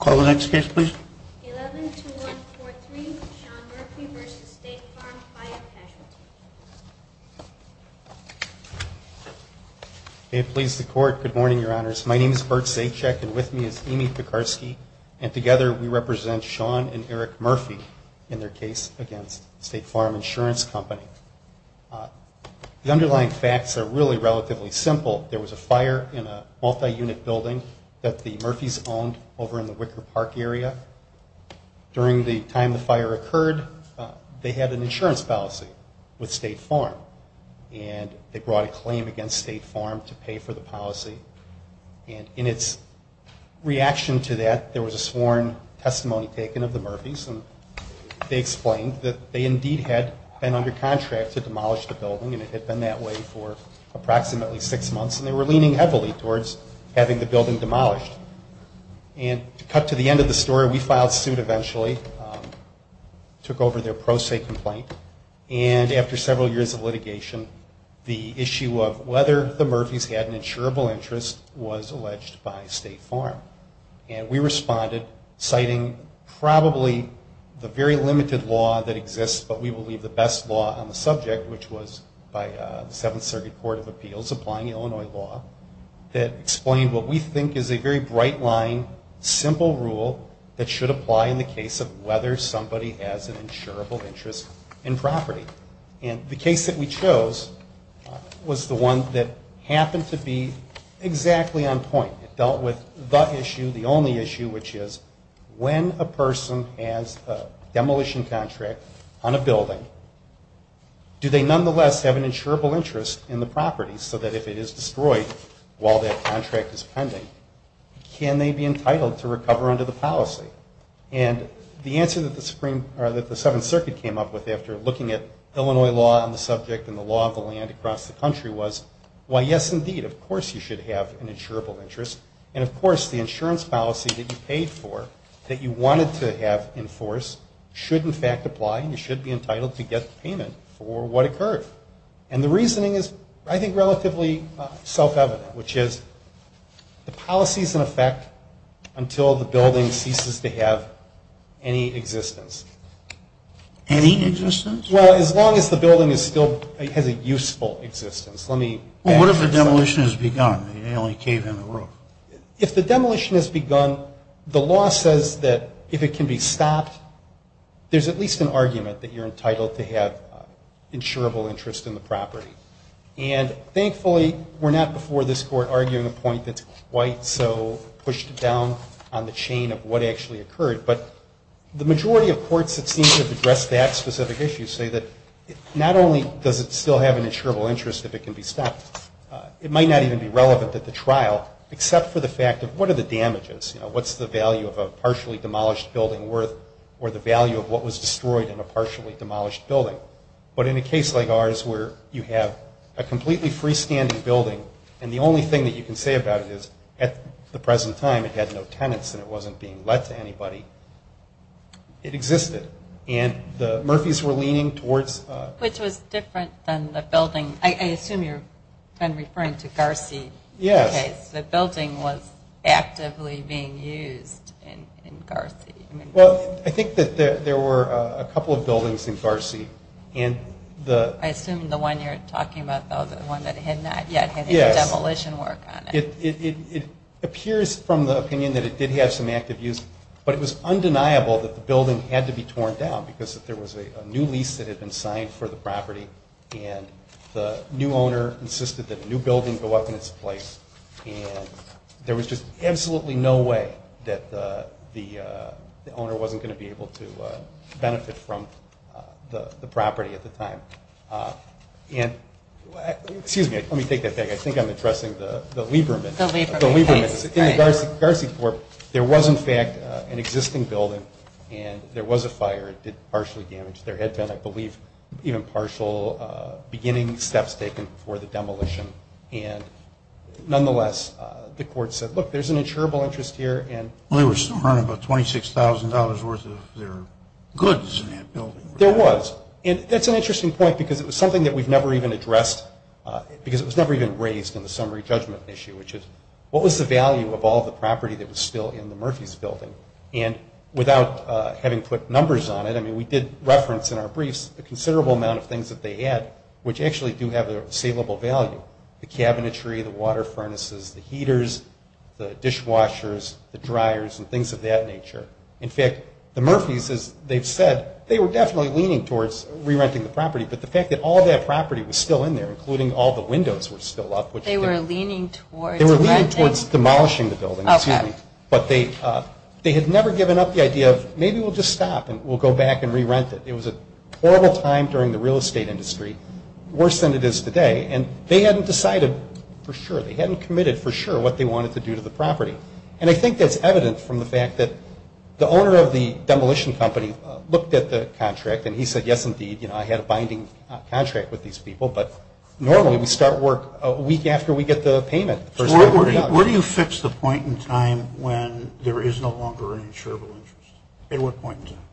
Casualty. May it please the Court, good morning, Your Honors. My name is Burt Zajac and with me is Amy Pikarsky and together we represent Sean and Eric Murphy in their case against State Farm Insurance Company. The underlying facts are really relatively simple. There was a fire in a multi-unit building that the Murphys owned over in the Wicker Park area. During the time the fire occurred, they had an insurance policy with State Farm and they brought a claim against State Farm to pay for the policy. And in its reaction to that, there was a sworn testimony taken of the Murphys and they explained that they indeed had been under contract to demolish the building and it had been that way for approximately six months and they were leaning heavily towards having the building demolished. And to cut to the end of the story, we filed suit eventually, took over their pro se complaint and after several years of litigation, the issue of whether the Murphys had an insurable interest was alleged by State Farm. And we responded citing probably the very limited law that exists, but we believe the best law on the subject, which was by the Seventh Circuit Court of Appeals applying Illinois law, that explained what we think is a very bright line, simple rule that should apply in the case of whether somebody has an insurable interest in property. And the case that we chose was the one that happened to be exactly on point. It dealt with the issue, the only issue, which is when a person has a demolition contract on a building, do they nonetheless have an insurable interest in the property so that if it is destroyed while that contract is pending, can they be entitled to recover under the policy? And the answer that the Seventh Circuit came up with after looking at Illinois law on the subject and the law of the land across the country was, why yes indeed, of course you should have an insurable interest and of course the insurance policy that you paid for, that you wanted to have enforced, should in fact apply and you should be entitled to get the payment for what occurred. And the reasoning is, I think, relatively self-evident, which is the policy is in effect until the building ceases to have any existence. Any existence? Well, as long as the building is still, has a useful existence. Let me add to that. Well, what if the demolition has begun and they only cave in the roof? If the demolition has begun, the law says that if it can be stopped, there's at least an argument that you're entitled to have insurable interest in the property. And thankfully, we're not before this Court arguing a point that's quite so pushed down on the chain of what actually occurred. But the majority of courts that seem to have addressed that specific issue say that not only does it still have an insurable interest if it can be stopped, it might not even be stopped. Except for the fact of what are the damages? You know, what's the value of a partially demolished building worth or the value of what was destroyed in a partially demolished building? But in a case like ours where you have a completely freestanding building and the only thing that you can say about it is, at the present time, it had no tenants and it wasn't being let to anybody, it existed. And the Murphys were leaning towards- Which was different than the building, I assume you're referring to Garcey. Yes. In that case, the building was actively being used in Garcey. Well, I think that there were a couple of buildings in Garcey and the- I assume the one you're talking about, though, the one that had not yet had any demolition work on it. Yes. It appears from the opinion that it did have some active use, but it was undeniable that the building had to be torn down because there was a new lease that had been signed for the And there was just absolutely no way that the owner wasn't going to be able to benefit from the property at the time. And, excuse me, let me take that back. I think I'm addressing the Liebermans. The Liebermans. The Liebermans. In the Garcey Corp, there was, in fact, an existing building and there was a fire. It did partially damage. There had been, I believe, even partial beginning steps taken for the demolition. And, nonetheless, the court said, look, there's an insurable interest here and- Well, they were still earning about $26,000 worth of their goods in that building. There was. And that's an interesting point because it was something that we've never even addressed because it was never even raised in the summary judgment issue, which is, what was the value of all the property that was still in the Murphys building? And without having put numbers on it, I mean, we did reference in our briefs a considerable amount of things that they had, which actually do have a salable value. The cabinetry, the water furnaces, the heaters, the dishwashers, the dryers, and things of that nature. In fact, the Murphys, as they've said, they were definitely leaning towards re-renting the property. But the fact that all that property was still in there, including all the windows were still up, which- They were leaning towards- They were leaning towards demolishing the building, excuse me. But they had never given up the idea of, maybe we'll just stop and we'll go back and re-rent it. It was a horrible time during the real estate industry, worse than it is today. And they hadn't decided for sure, they hadn't committed for sure what they wanted to do to the property. And I think that's evident from the fact that the owner of the demolition company looked at the contract and he said, yes, indeed, you know, I had a binding contract with these people. But normally we start work a week after we get the payment. Where do you fix the point in time when there is no longer an insurable interest? At what point in time?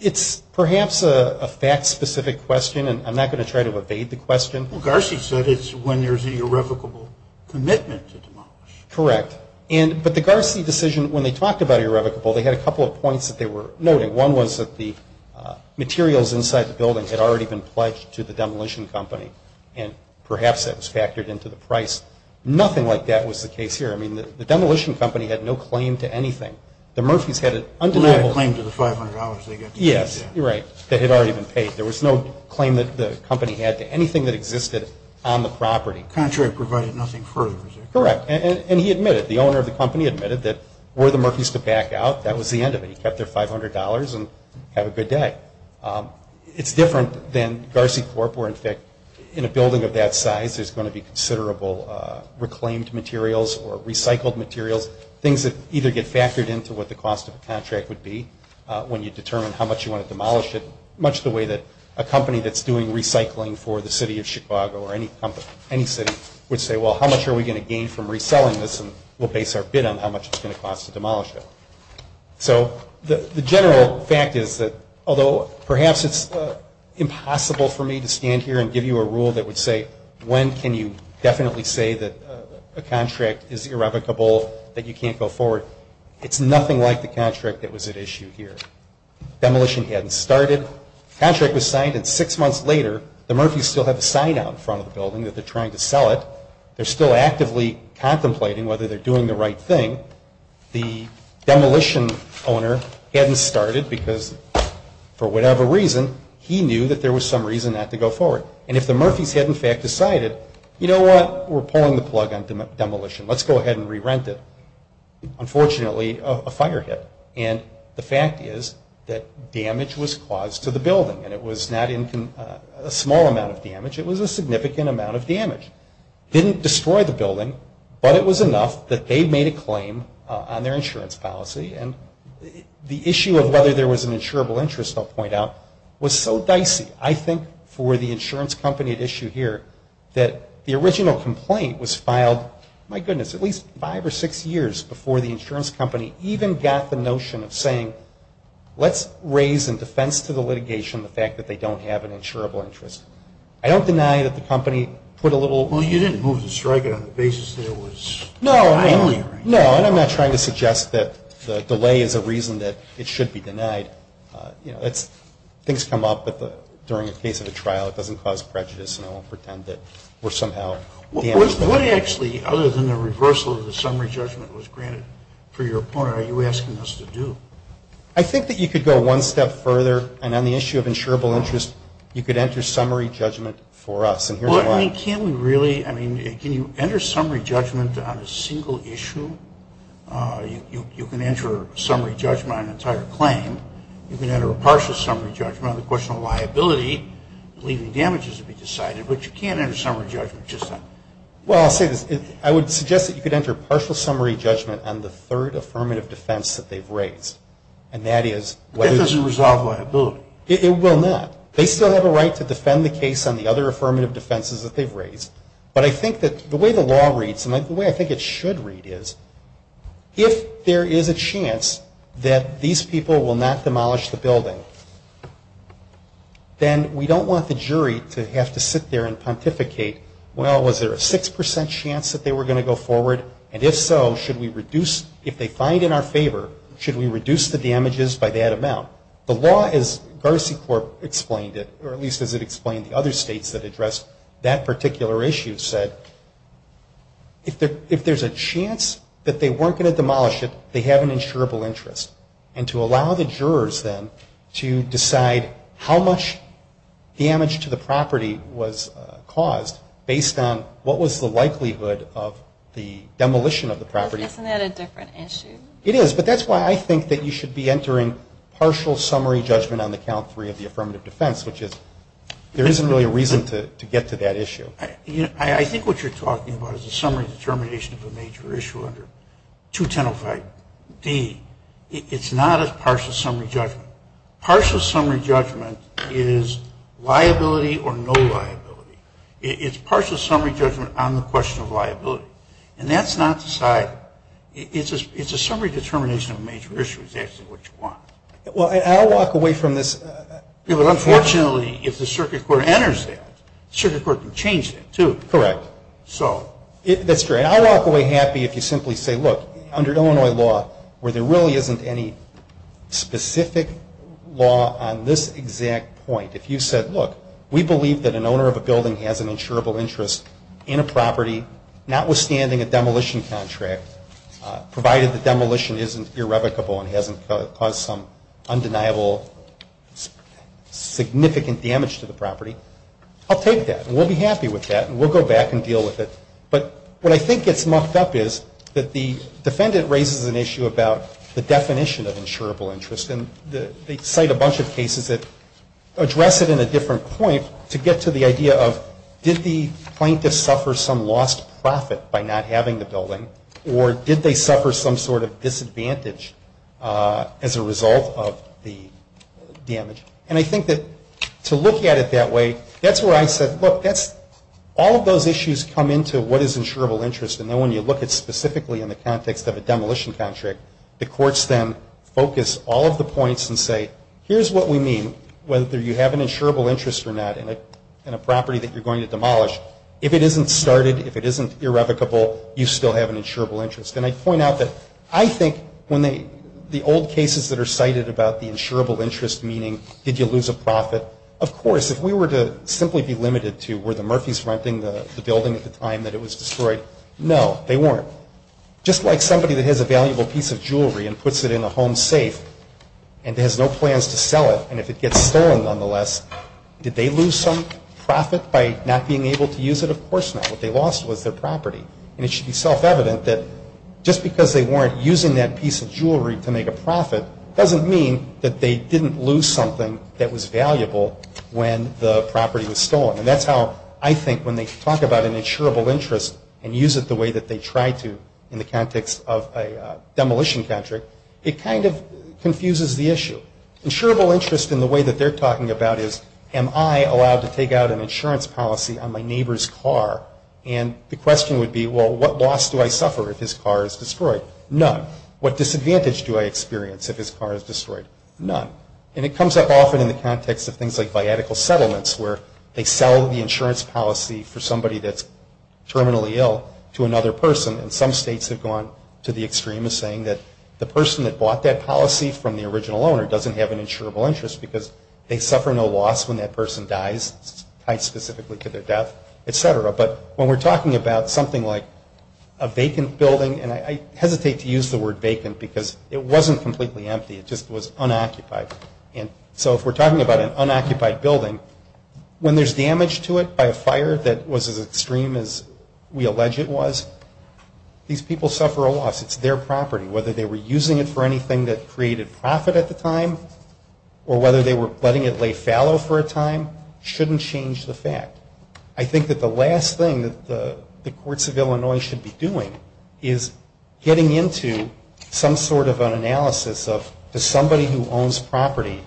It's perhaps a fact-specific question, and I'm not going to try to evade the question. Well, Garci said it's when there's an irrevocable commitment to demolish. Correct. But the Garci decision, when they talked about irrevocable, they had a couple of points that they were noting. One was that the materials inside the building had already been pledged to the demolition company, and perhaps that was factored into the price. Nothing like that was the case here. I mean, the demolition company had no claim to anything. The Murphys had an undeniable- Yes. You're right. They had already been paid. There was no claim that the company had to anything that existed on the property. The contract provided nothing further. Correct. And he admitted. The owner of the company admitted that were the Murphys to back out, that was the end of it. He kept their $500 and have a good day. It's different than Garci Corp. where, in fact, in a building of that size, there's going to be considerable reclaimed materials or recycled materials, things that either get factored into what the cost of a contract would be when you determine how much you want to demolish it, much the way that a company that's doing recycling for the city of Chicago or any city would say, well, how much are we going to gain from reselling this, and we'll base our bid on how much it's going to cost to demolish it. So, the general fact is that, although perhaps it's impossible for me to stand here and give you a rule that would say, when can you definitely say that a contract is irrevocable, that you can't go forward, it's nothing like the contract that was at issue here. Demolition hadn't started. The contract was signed, and six months later, the Murphys still have a sign out in front of the building that they're trying to sell it. They're still actively contemplating whether they're doing the right thing. The demolition owner hadn't started because, for whatever reason, he knew that there was some reason not to go forward. And if the Murphys had, in fact, decided, you know what, we're pulling the plug on demolition. Let's go ahead and re-rent it. Unfortunately, a fire hit. And the fact is that damage was caused to the building, and it was not a small amount of damage. It was a significant amount of damage. Didn't destroy the building, but it was enough that they made a claim on their insurance policy, and the issue of whether there was an insurable interest, I'll point out, was so dicey, I think, for the insurance company at issue here, that the original complaint was filed, my goodness, at least five or six years before the insurance company even got the notion of saying, let's raise in defense to the litigation the fact that they don't have an insurable interest. I don't deny that the company put a little... Well, you didn't move to strike it on the basis that it was timely, right? No, and I'm not trying to suggest that the delay is a reason that it should be denied. You know, things come up during the case of a trial. It doesn't cause prejudice, and I won't pretend that we're somehow... What actually, other than the reversal of the summary judgment was granted for your opponent, are you asking us to do? I think that you could go one step further, and on the issue of insurable interest, you could enter summary judgment for us, and here's why. Well, I mean, can we really? I mean, can you enter summary judgment on a single issue? You can enter summary judgment on an entire claim. You can enter a partial summary judgment on the question of liability, leaving damages to be decided, but you can't enter summary judgment just on... Well, I'll say this. I would suggest that you could enter partial summary judgment on the third affirmative defense that they've raised, and that is... That doesn't resolve liability. It will not. They still have a right to defend the case on the other affirmative defenses that they've raised, but I think that the way the law reads, and the way I think it should read is, if there is a chance that these people will not demolish the building, then we don't want the jury to have to sit there and pontificate, well, was there a 6% chance that they were going to go forward, and if so, should we reduce... If they find in our favor, should we reduce the damages by that amount? The law, as GarciCorp explained it, or at least as it explained the other states that addressed that particular issue, said, if there's a chance that they weren't going to demolish it, they have an insurable interest. And to allow the jurors, then, to decide how much damage to the property was caused based on what was the likelihood of the demolition of the property. Isn't that a different issue? It is, but that's why I think that you should be entering partial summary judgment on the count three of the affirmative defense, which is there isn't really a reason to get to that issue. I think what you're talking about is a summary determination of a major issue under 2105D. It's not a partial summary judgment. Partial summary judgment is liability or no liability. It's partial summary judgment on the question of liability. And that's not decided. It's a summary determination of a major issue is actually what you want. Well, I'll walk away from this... Yeah, but unfortunately, if the circuit court enters that, the circuit court can change that, too. Correct. So... That's great. But I'll walk away happy if you simply say, look, under Illinois law, where there really isn't any specific law on this exact point, if you said, look, we believe that an owner of a building has an insurable interest in a property, notwithstanding a demolition contract, provided the demolition isn't irrevocable and hasn't caused some undeniable significant damage to the property, I'll take that and we'll be happy with that and we'll go back and deal with it. But what I think gets mucked up is that the defendant raises an issue about the definition of insurable interest, and they cite a bunch of cases that address it in a different point to get to the idea of did the plaintiff suffer some lost profit by not having the building or did they suffer some sort of disadvantage as a result of the damage. And I think that to look at it that way, that's where I said, look, all of those issues come into what is insurable interest, and then when you look at specifically in the context of a demolition contract, the courts then focus all of the points and say, here's what we mean, whether you have an insurable interest or not in a property that you're going to demolish, if it isn't started, if it isn't irrevocable, you still have an insurable interest. And I point out that I think when the old cases that are cited about the insurable interest meaning did you lose a profit, of course, if we were to simply be limited to were the Murphys renting the building at the time that it was destroyed, no, they weren't. Just like somebody that has a valuable piece of jewelry and puts it in a home safe and has no plans to sell it, and if it gets stolen nonetheless, did they lose some profit by not being able to use it? Of course not. What they lost was their property. And it should be self-evident that just because they weren't using that piece of jewelry to make a profit doesn't mean that they didn't lose something that when the property was stolen. And that's how I think when they talk about an insurable interest and use it the way that they try to in the context of a demolition contract, it kind of confuses the issue. Insurable interest in the way that they're talking about is, am I allowed to take out an insurance policy on my neighbor's car? And the question would be, well, what loss do I suffer if his car is destroyed? None. What disadvantage do I experience if his car is destroyed? None. And it comes up often in the context of things like biatical settlements where they sell the insurance policy for somebody that's terminally ill to another person, and some states have gone to the extreme of saying that the person that bought that policy from the original owner doesn't have an insurable interest because they suffer no loss when that person dies, tied specifically to their death, et cetera. But when we're talking about something like a vacant building, and I hesitate to use the word vacant because it wasn't completely empty. It just was unoccupied. So if we're talking about an unoccupied building, when there's damage to it by a fire that was as extreme as we allege it was, these people suffer a loss. It's their property. Whether they were using it for anything that created profit at the time or whether they were letting it lay fallow for a time shouldn't change the fact. I think that the last thing that the courts of Illinois should be doing is getting into some sort of an analysis of, does somebody who owns property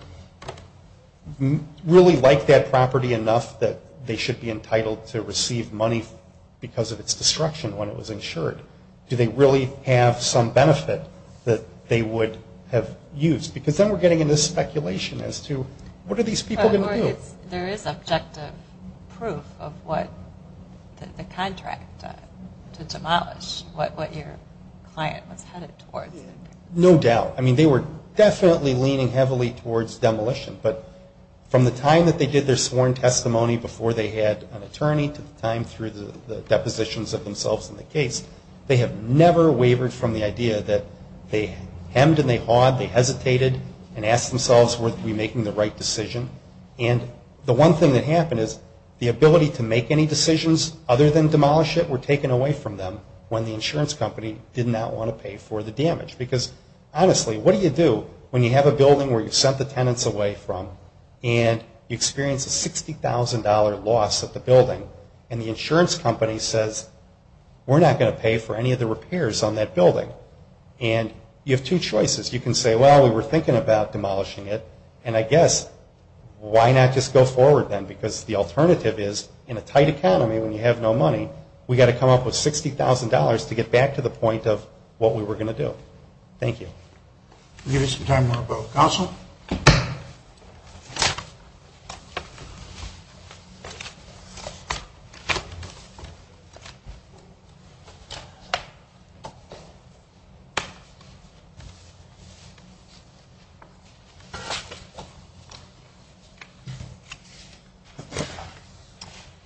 really like that property enough that they should be entitled to receive money because of its destruction when it was insured? Do they really have some benefit that they would have used? Because then we're getting into speculation as to what are these people going to do? There is objective proof of what the contract to demolish, what your client was headed towards. No doubt. I mean, they were definitely leaning heavily towards demolition. But from the time that they did their sworn testimony before they had an attorney to the time through the depositions of themselves in the case, they have never wavered from the idea that they hemmed and they hawed, they hesitated and asked themselves were we making the right decision. And the one thing that happened is the ability to make any decisions other than demolish it were taken away from them when the insurance company did not want to pay for the damage. Because honestly, what do you do when you have a building where you've sent the tenants away from and you experience a $60,000 loss at the building and the insurance company says we're not going to pay for any of the repairs on that building? And you have two choices. You can say, well, we were thinking about demolishing it, and I guess why not just go forward then because the alternative is in a $60,000 to get back to the point of what we were going to do. Thank you. We'll give you some time to vote.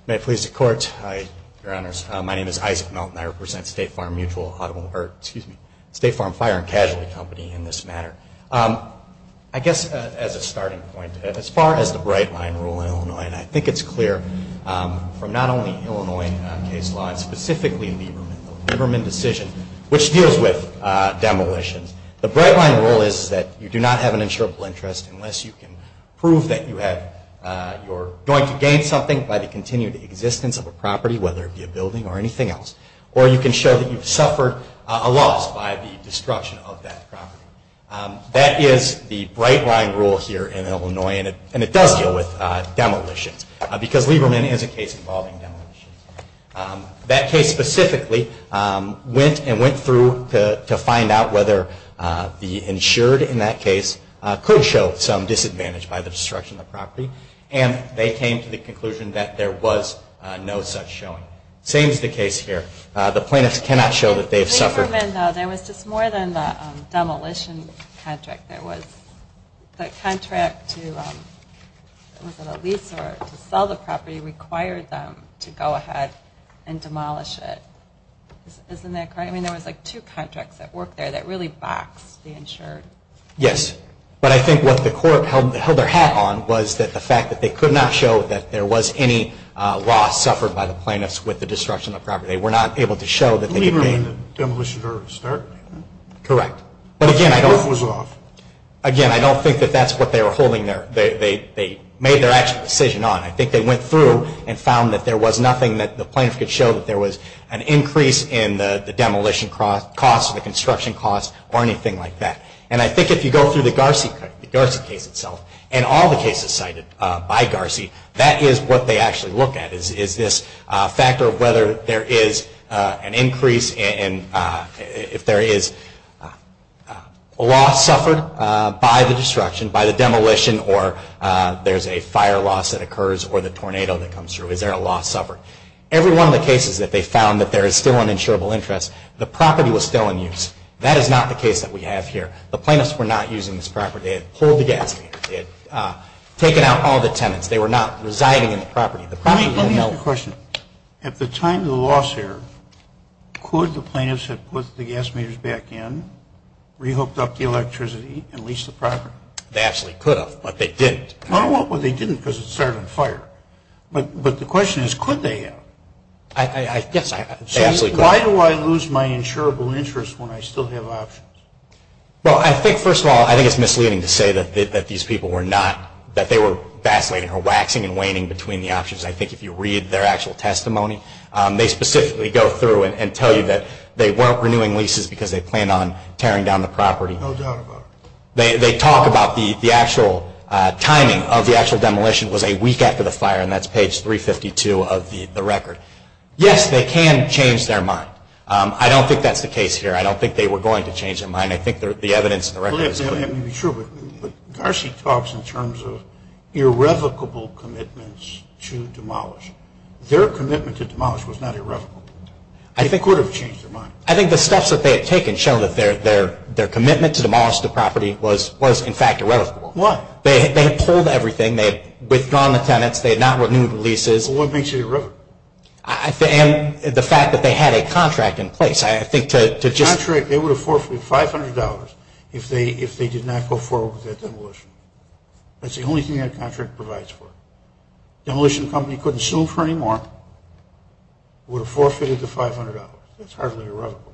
May it please the Court, Hi, Your Honors. My name is Isaac Melton. I represent State Farm Mutual, or excuse me, State Farm Fire and Casualty Company in this matter. I guess as a starting point, as far as the bright line rule in Illinois, and I think it's clear from not only Illinois case law and specifically Lieberman, the Lieberman decision, which deals with demolitions, the bright line rule is that you do not have an insurable interest unless you can prove that you're going to gain something by the continued existence of a property, whether it be a building or anything else, or you can show that you've suffered a loss by the destruction of that property. That is the bright line rule here in Illinois, and it does deal with demolitions because Lieberman is a case involving demolitions. That case specifically went and went through to find out whether the insured in that case could show some disadvantage by the destruction of the property. The plaintiffs cannot show that they have suffered. In Lieberman, though, there was just more than the demolition contract. There was the contract to lease or to sell the property required them to go ahead and demolish it. Isn't that correct? I mean, there was like two contracts that worked there that really boxed the insured. Yes. But I think what the court held their hat on was that the fact that they suffered by the plaintiffs with the destruction of the property, they were not able to show that they could gain. In Lieberman, the demolition was already started. Correct. But again, I don't think that that's what they were holding there. They made their actual decision on it. I think they went through and found that there was nothing that the plaintiff could show that there was an increase in the demolition costs or the construction costs or anything like that. And I think if you go through the Garci case itself and all the cases cited by this factor of whether there is an increase in if there is a loss suffered by the destruction, by the demolition, or there's a fire loss that occurs or the tornado that comes through, is there a loss suffered? Every one of the cases that they found that there is still an insurable interest, the property was still in use. That is not the case that we have here. The plaintiffs were not using this property. They had pulled the gas. They had taken out all the tenants. They were not residing in the property. The property didn't help. Let me ask you a question. At the time of the loss there, could the plaintiffs have put the gas meters back in, re-hooked up the electricity, and leased the property? They absolutely could have, but they didn't. Well, they didn't because it started on fire. But the question is, could they have? Yes, they absolutely could have. So why do I lose my insurable interest when I still have options? Well, I think, first of all, I think it's misleading to say that these people were not, I think if you read their actual testimony, they specifically go through and tell you that they weren't renewing leases because they planned on tearing down the property. No doubt about it. They talk about the actual timing of the actual demolition was a week after the fire, and that's page 352 of the record. Yes, they can change their mind. I don't think that's the case here. I don't think they were going to change their mind. I think the evidence in the record is clear. But Garci talks in terms of irrevocable commitments to demolish. Their commitment to demolish was not irrevocable. They could have changed their mind. I think the steps that they had taken showed that their commitment to demolish the property was, in fact, irrevocable. Why? They had pulled everything. They had withdrawn the tenants. They had not renewed the leases. Well, what makes it irrevocable? The fact that they had a contract in place. They would have forfeited $500 if they did not go forward with that demolition. That's the only thing that contract provides for. Demolition company couldn't sue for any more. Would have forfeited the $500. That's hardly irrevocable.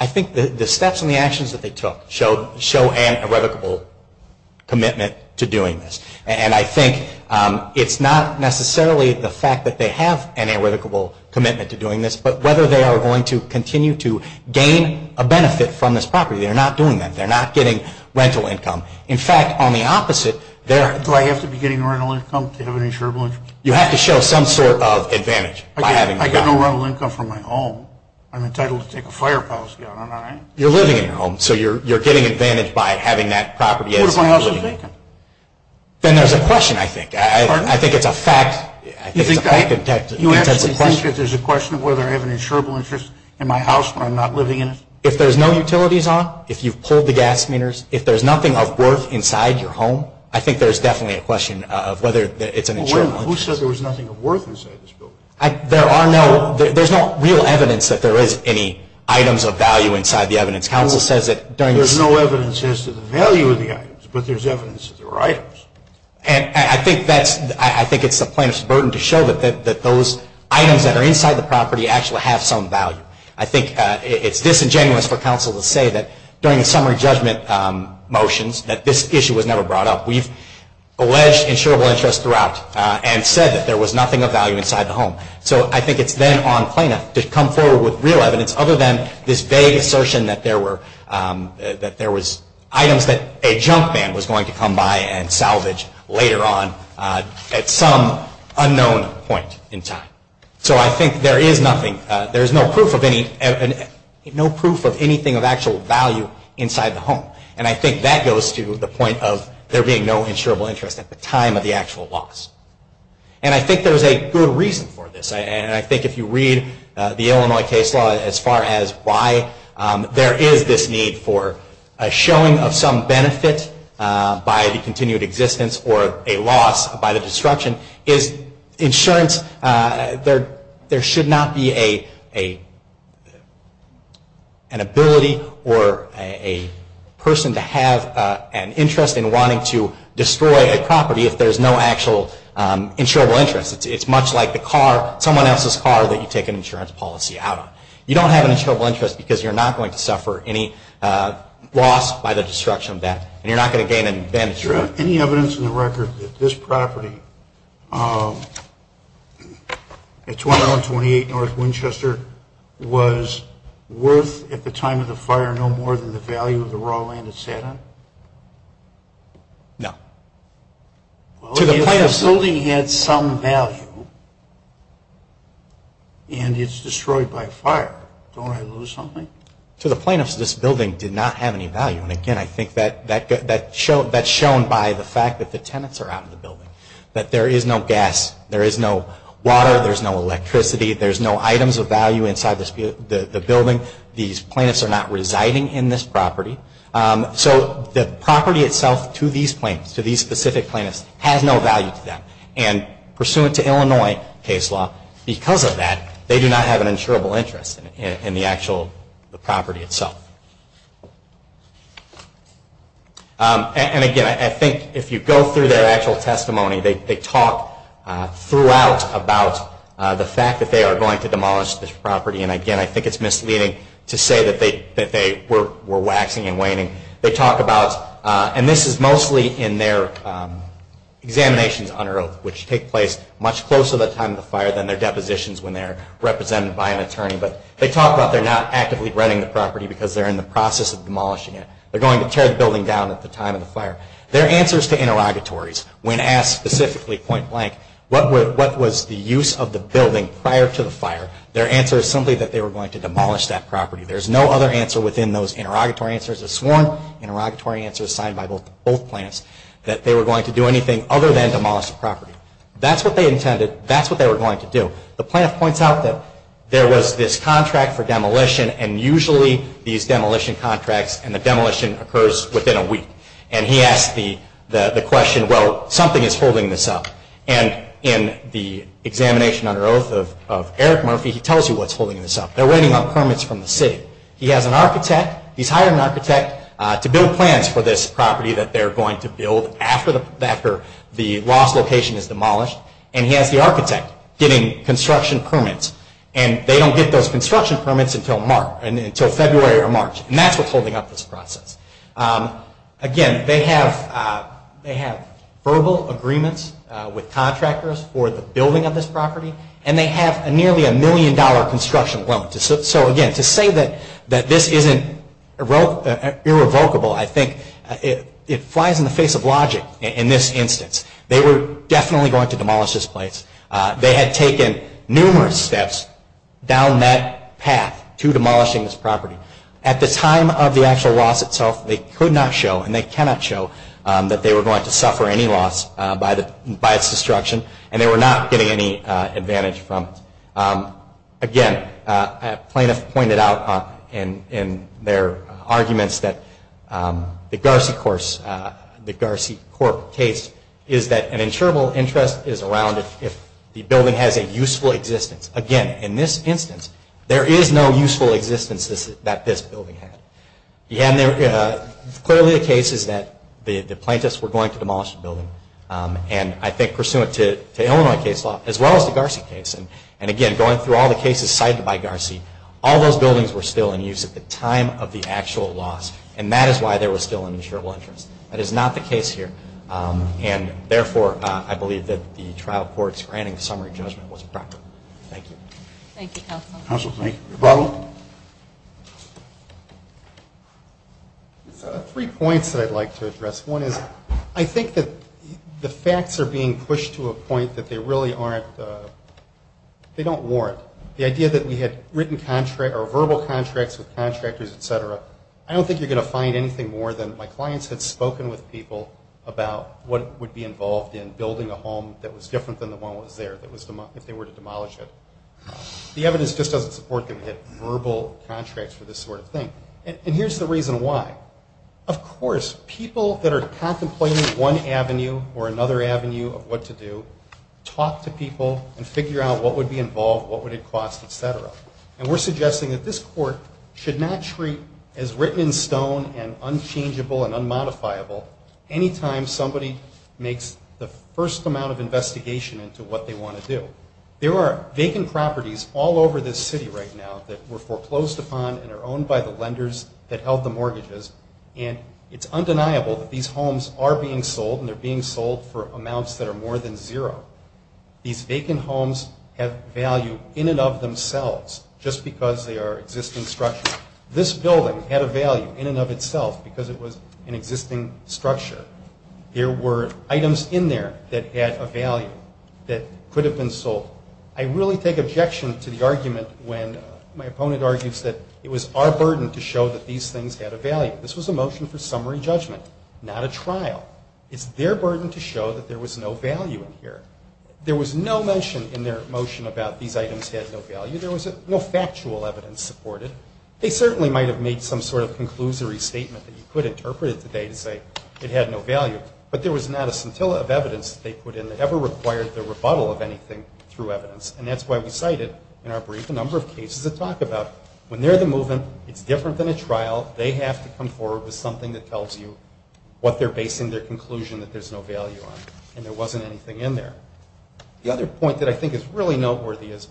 I think the steps and the actions that they took show an irrevocable commitment to doing this. And I think it's not necessarily the fact that they have an irrevocable commitment to doing this, but whether they are going to continue to gain a benefit from this property. They're not doing that. They're not getting rental income. In fact, on the opposite, they're – Do I have to be getting rental income to have an insurable income? You have to show some sort of advantage by having – I get no rental income from my home. I'm entitled to take a fire policy on it, aren't I? You're living in your home, so you're getting advantage by having that property as – What if my house is vacant? Then there's a question, I think. I think it's a fact – You actually think that there's a question of whether I have an insurable interest in my house when I'm not living in it? If there's no utilities on, if you've pulled the gas meters, if there's nothing of worth inside your home, I think there's definitely a question of whether it's an insurable interest. Who said there was nothing of worth inside this building? There are no – there's no real evidence that there is any items of value inside the evidence. Counsel says that during this – There's no evidence as to the value of the items, but there's evidence that there are items. And I think that's – I think it's the plaintiff's burden to show that those items that are inside the property actually have some value. I think it's disingenuous for counsel to say that during the summary judgment motions that this issue was never brought up. We've alleged insurable interest throughout and said that there was nothing of value inside the home. So I think it's then on plaintiff to come forward with real evidence other than this vague assertion that there were – later on at some unknown point in time. So I think there is nothing – there's no proof of any – no proof of anything of actual value inside the home. And I think that goes to the point of there being no insurable interest at the time of the actual loss. And I think there's a good reason for this. And I think if you read the Illinois case law as far as why there is this need for a showing of some benefit by the continued existence or a loss by the destruction is insurance – there should not be an ability or a person to have an interest in wanting to destroy a property if there's no actual insurable interest. It's much like the car – someone else's car that you take an insurance policy out on. You don't have an insurable interest because you're not going to suffer any loss by the destruction of that. And you're not going to gain an advantage. Do you have any evidence in the record that this property at 2128 North Winchester was worth at the time of the fire no more than the value of the raw land it sat on? No. Well, if the building had some value and it's destroyed by fire, don't I lose something? To the plaintiffs, this building did not have any value. And again, I think that's shown by the fact that the tenants are out in the building, that there is no gas, there is no water, there's no electricity, there's no items of value inside the building. These plaintiffs are not residing in this property. So the property itself to these specific plaintiffs has no value to them. And pursuant to Illinois case law, because of that, they do not have an insurable interest in the actual property itself. And again, I think if you go through their actual testimony, they talk throughout about the fact that they are going to demolish this property. And again, I think it's misleading to say that they were waxing and waning. They talk about, and this is mostly in their examinations on earth, which take place much closer to the time of the fire than their depositions when they're represented by an attorney. But they talk about they're not actively renting the property because they're in the process of demolishing it. They're going to tear the building down at the time of the fire. Their answers to interrogatories when asked specifically point blank, what was the use of the building prior to the fire, their answer is simply that they were going to demolish that property. There's no other answer within those interrogatory answers. A sworn interrogatory answer is signed by both plaintiffs that they were going to do anything other than demolish the property. That's what they intended. That's what they were going to do. The plaintiff points out that there was this contract for demolition and usually these demolition contracts and the demolition occurs within a week. And he asked the question, well, something is holding this up. And in the examination under oath of Eric Murphy, he tells you what's holding this up. They're waiting on permits from the city. He has an architect. To build plans for this property that they're going to build after the lost location is demolished. And he has the architect getting construction permits. And they don't get those construction permits until February or March. And that's what's holding up this process. Again, they have verbal agreements with contractors for the building of this property. And they have nearly a million dollar construction loan. So again, to say that this isn't irrevocable, I think it flies in the face of logic in this instance. They were definitely going to demolish this place. They had taken numerous steps down that path to demolishing this property. At the time of the actual loss itself, they could not show and they cannot show that they were going to suffer any loss by its destruction and they were not getting any advantage from it. Again, a plaintiff pointed out in their arguments that the GarciCorp case is that an insurable interest is around if the building has a useful existence. Again, in this instance, there is no useful existence that this building had. Clearly the case is that the plaintiffs were going to demolish the building. And I think pursuant to Illinois case law, as well as the Garci case, and again, going through all the cases cited by Garci, all those buildings were still in use at the time of the actual loss. And that is why there was still an insurable interest. That is not the case here. And therefore, I believe that the trial court's granting summary judgment was improper. Thank you. Thank you, Counsel. Ronald? Three points that I'd like to address. One is I think that the facts are being pushed to a point that they really aren't, they don't warrant. The idea that we had verbal contracts with contractors, et cetera, I don't think you're going to find anything more than my clients had spoken with people about what would be involved in building a home that was different than the one that was there, if they were to demolish it. The evidence just doesn't support that we had verbal contracts for this sort of thing. And here's the reason why. Of course, people that are contemplating one avenue or another avenue of what to do, talk to people and figure out what would be involved, what would it cost, et cetera. And we're suggesting that this court should not treat as written in stone and unchangeable and unmodifiable any time somebody makes the first amount of investigation into what they want to do. There are vacant properties all over this city right now that were foreclosed upon and are owned by the lenders that held the mortgages, and it's undeniable that these homes are being sold and they're being sold for amounts that are more than zero. These vacant homes have value in and of themselves just because they are existing structures. This building had a value in and of itself because it was an existing structure. There were items in there that had a value that could have been sold. I really take objection to the argument when my opponent argues that it was our burden to show that these things had a value. This was a motion for summary judgment, not a trial. It's their burden to show that there was no value in here. There was no mention in their motion about these items had no value. There was no factual evidence supported. They certainly might have made some sort of conclusory statement that you could interpret it today to say it had no value, but there was not a scintilla of evidence that they put in that ever required the rebuttal of anything through evidence, and that's why we cited in our brief a number of cases that talk about when they're the movement, it's different than a trial. They have to come forward with something that tells you what they're basing their conclusion that there's no value on, and there wasn't anything in there. The other point that I think is really noteworthy is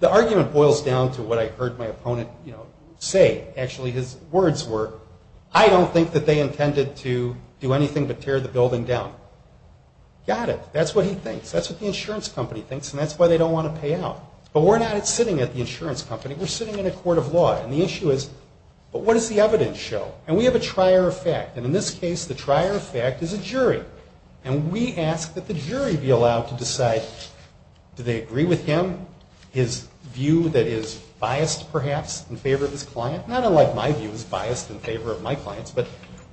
the argument boils down to what I heard my opponent say. Actually, his words were, I don't think that they intended to do anything but tear the building down. Got it. That's what he thinks. That's what the insurance company thinks, and that's why they don't want to pay out. But we're not sitting at the insurance company. We're sitting in a court of law, and the issue is, but what does the evidence show? And we have a trier of fact, and in this case, the trier of fact is a jury, and we ask that the jury be allowed to decide, do they agree with him, his view that is biased, perhaps, in favor of his client? Not unlike my view is biased in favor of my client's, but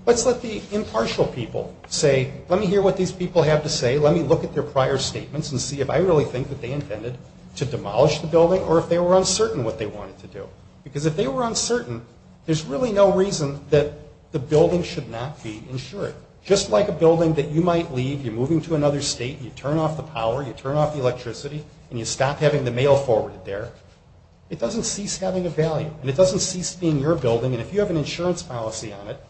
let's let the impartial people say, let me hear what these people have to say, let me look at their prior statements and see if I really think that they intended to demolish the building or if they were uncertain what they wanted to do. Because if they were uncertain, there's really no reason that the building should not be insured. Just like a building that you might leave, you're moving to another state, you turn off the power, you turn off the electricity, and you stop having the mail forwarded there, it doesn't cease having a value, and it doesn't cease being your building, and if you have an insurance policy on it,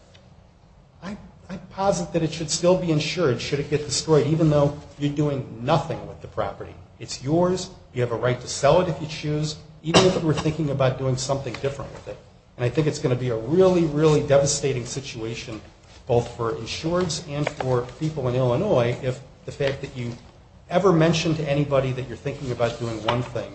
I posit that it should still be insured should it get destroyed, even though you're doing nothing with the property. It's yours, you have a right to sell it if you choose, even if we're thinking about doing something different with it. And I think it's going to be a really, really devastating situation, both for insurers and for people in Illinois, if the fact that you ever mention to anybody that you're thinking about doing one thing,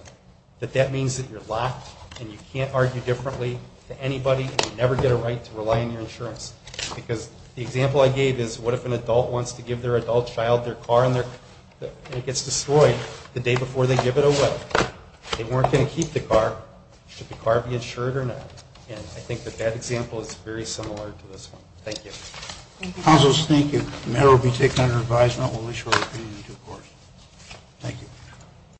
that that means that you're locked and you can't argue differently to anybody and you never get a right to rely on your insurance. Because the example I gave is, what if an adult wants to give their adult child their car and it gets destroyed the day before they give it away? They weren't going to keep the car. Should the car be insured or not? And I think that that example is very similar to this one. Thank you. Thank you. The matter will be taken under advisement. We'll issue our opinion in due course. Thank you.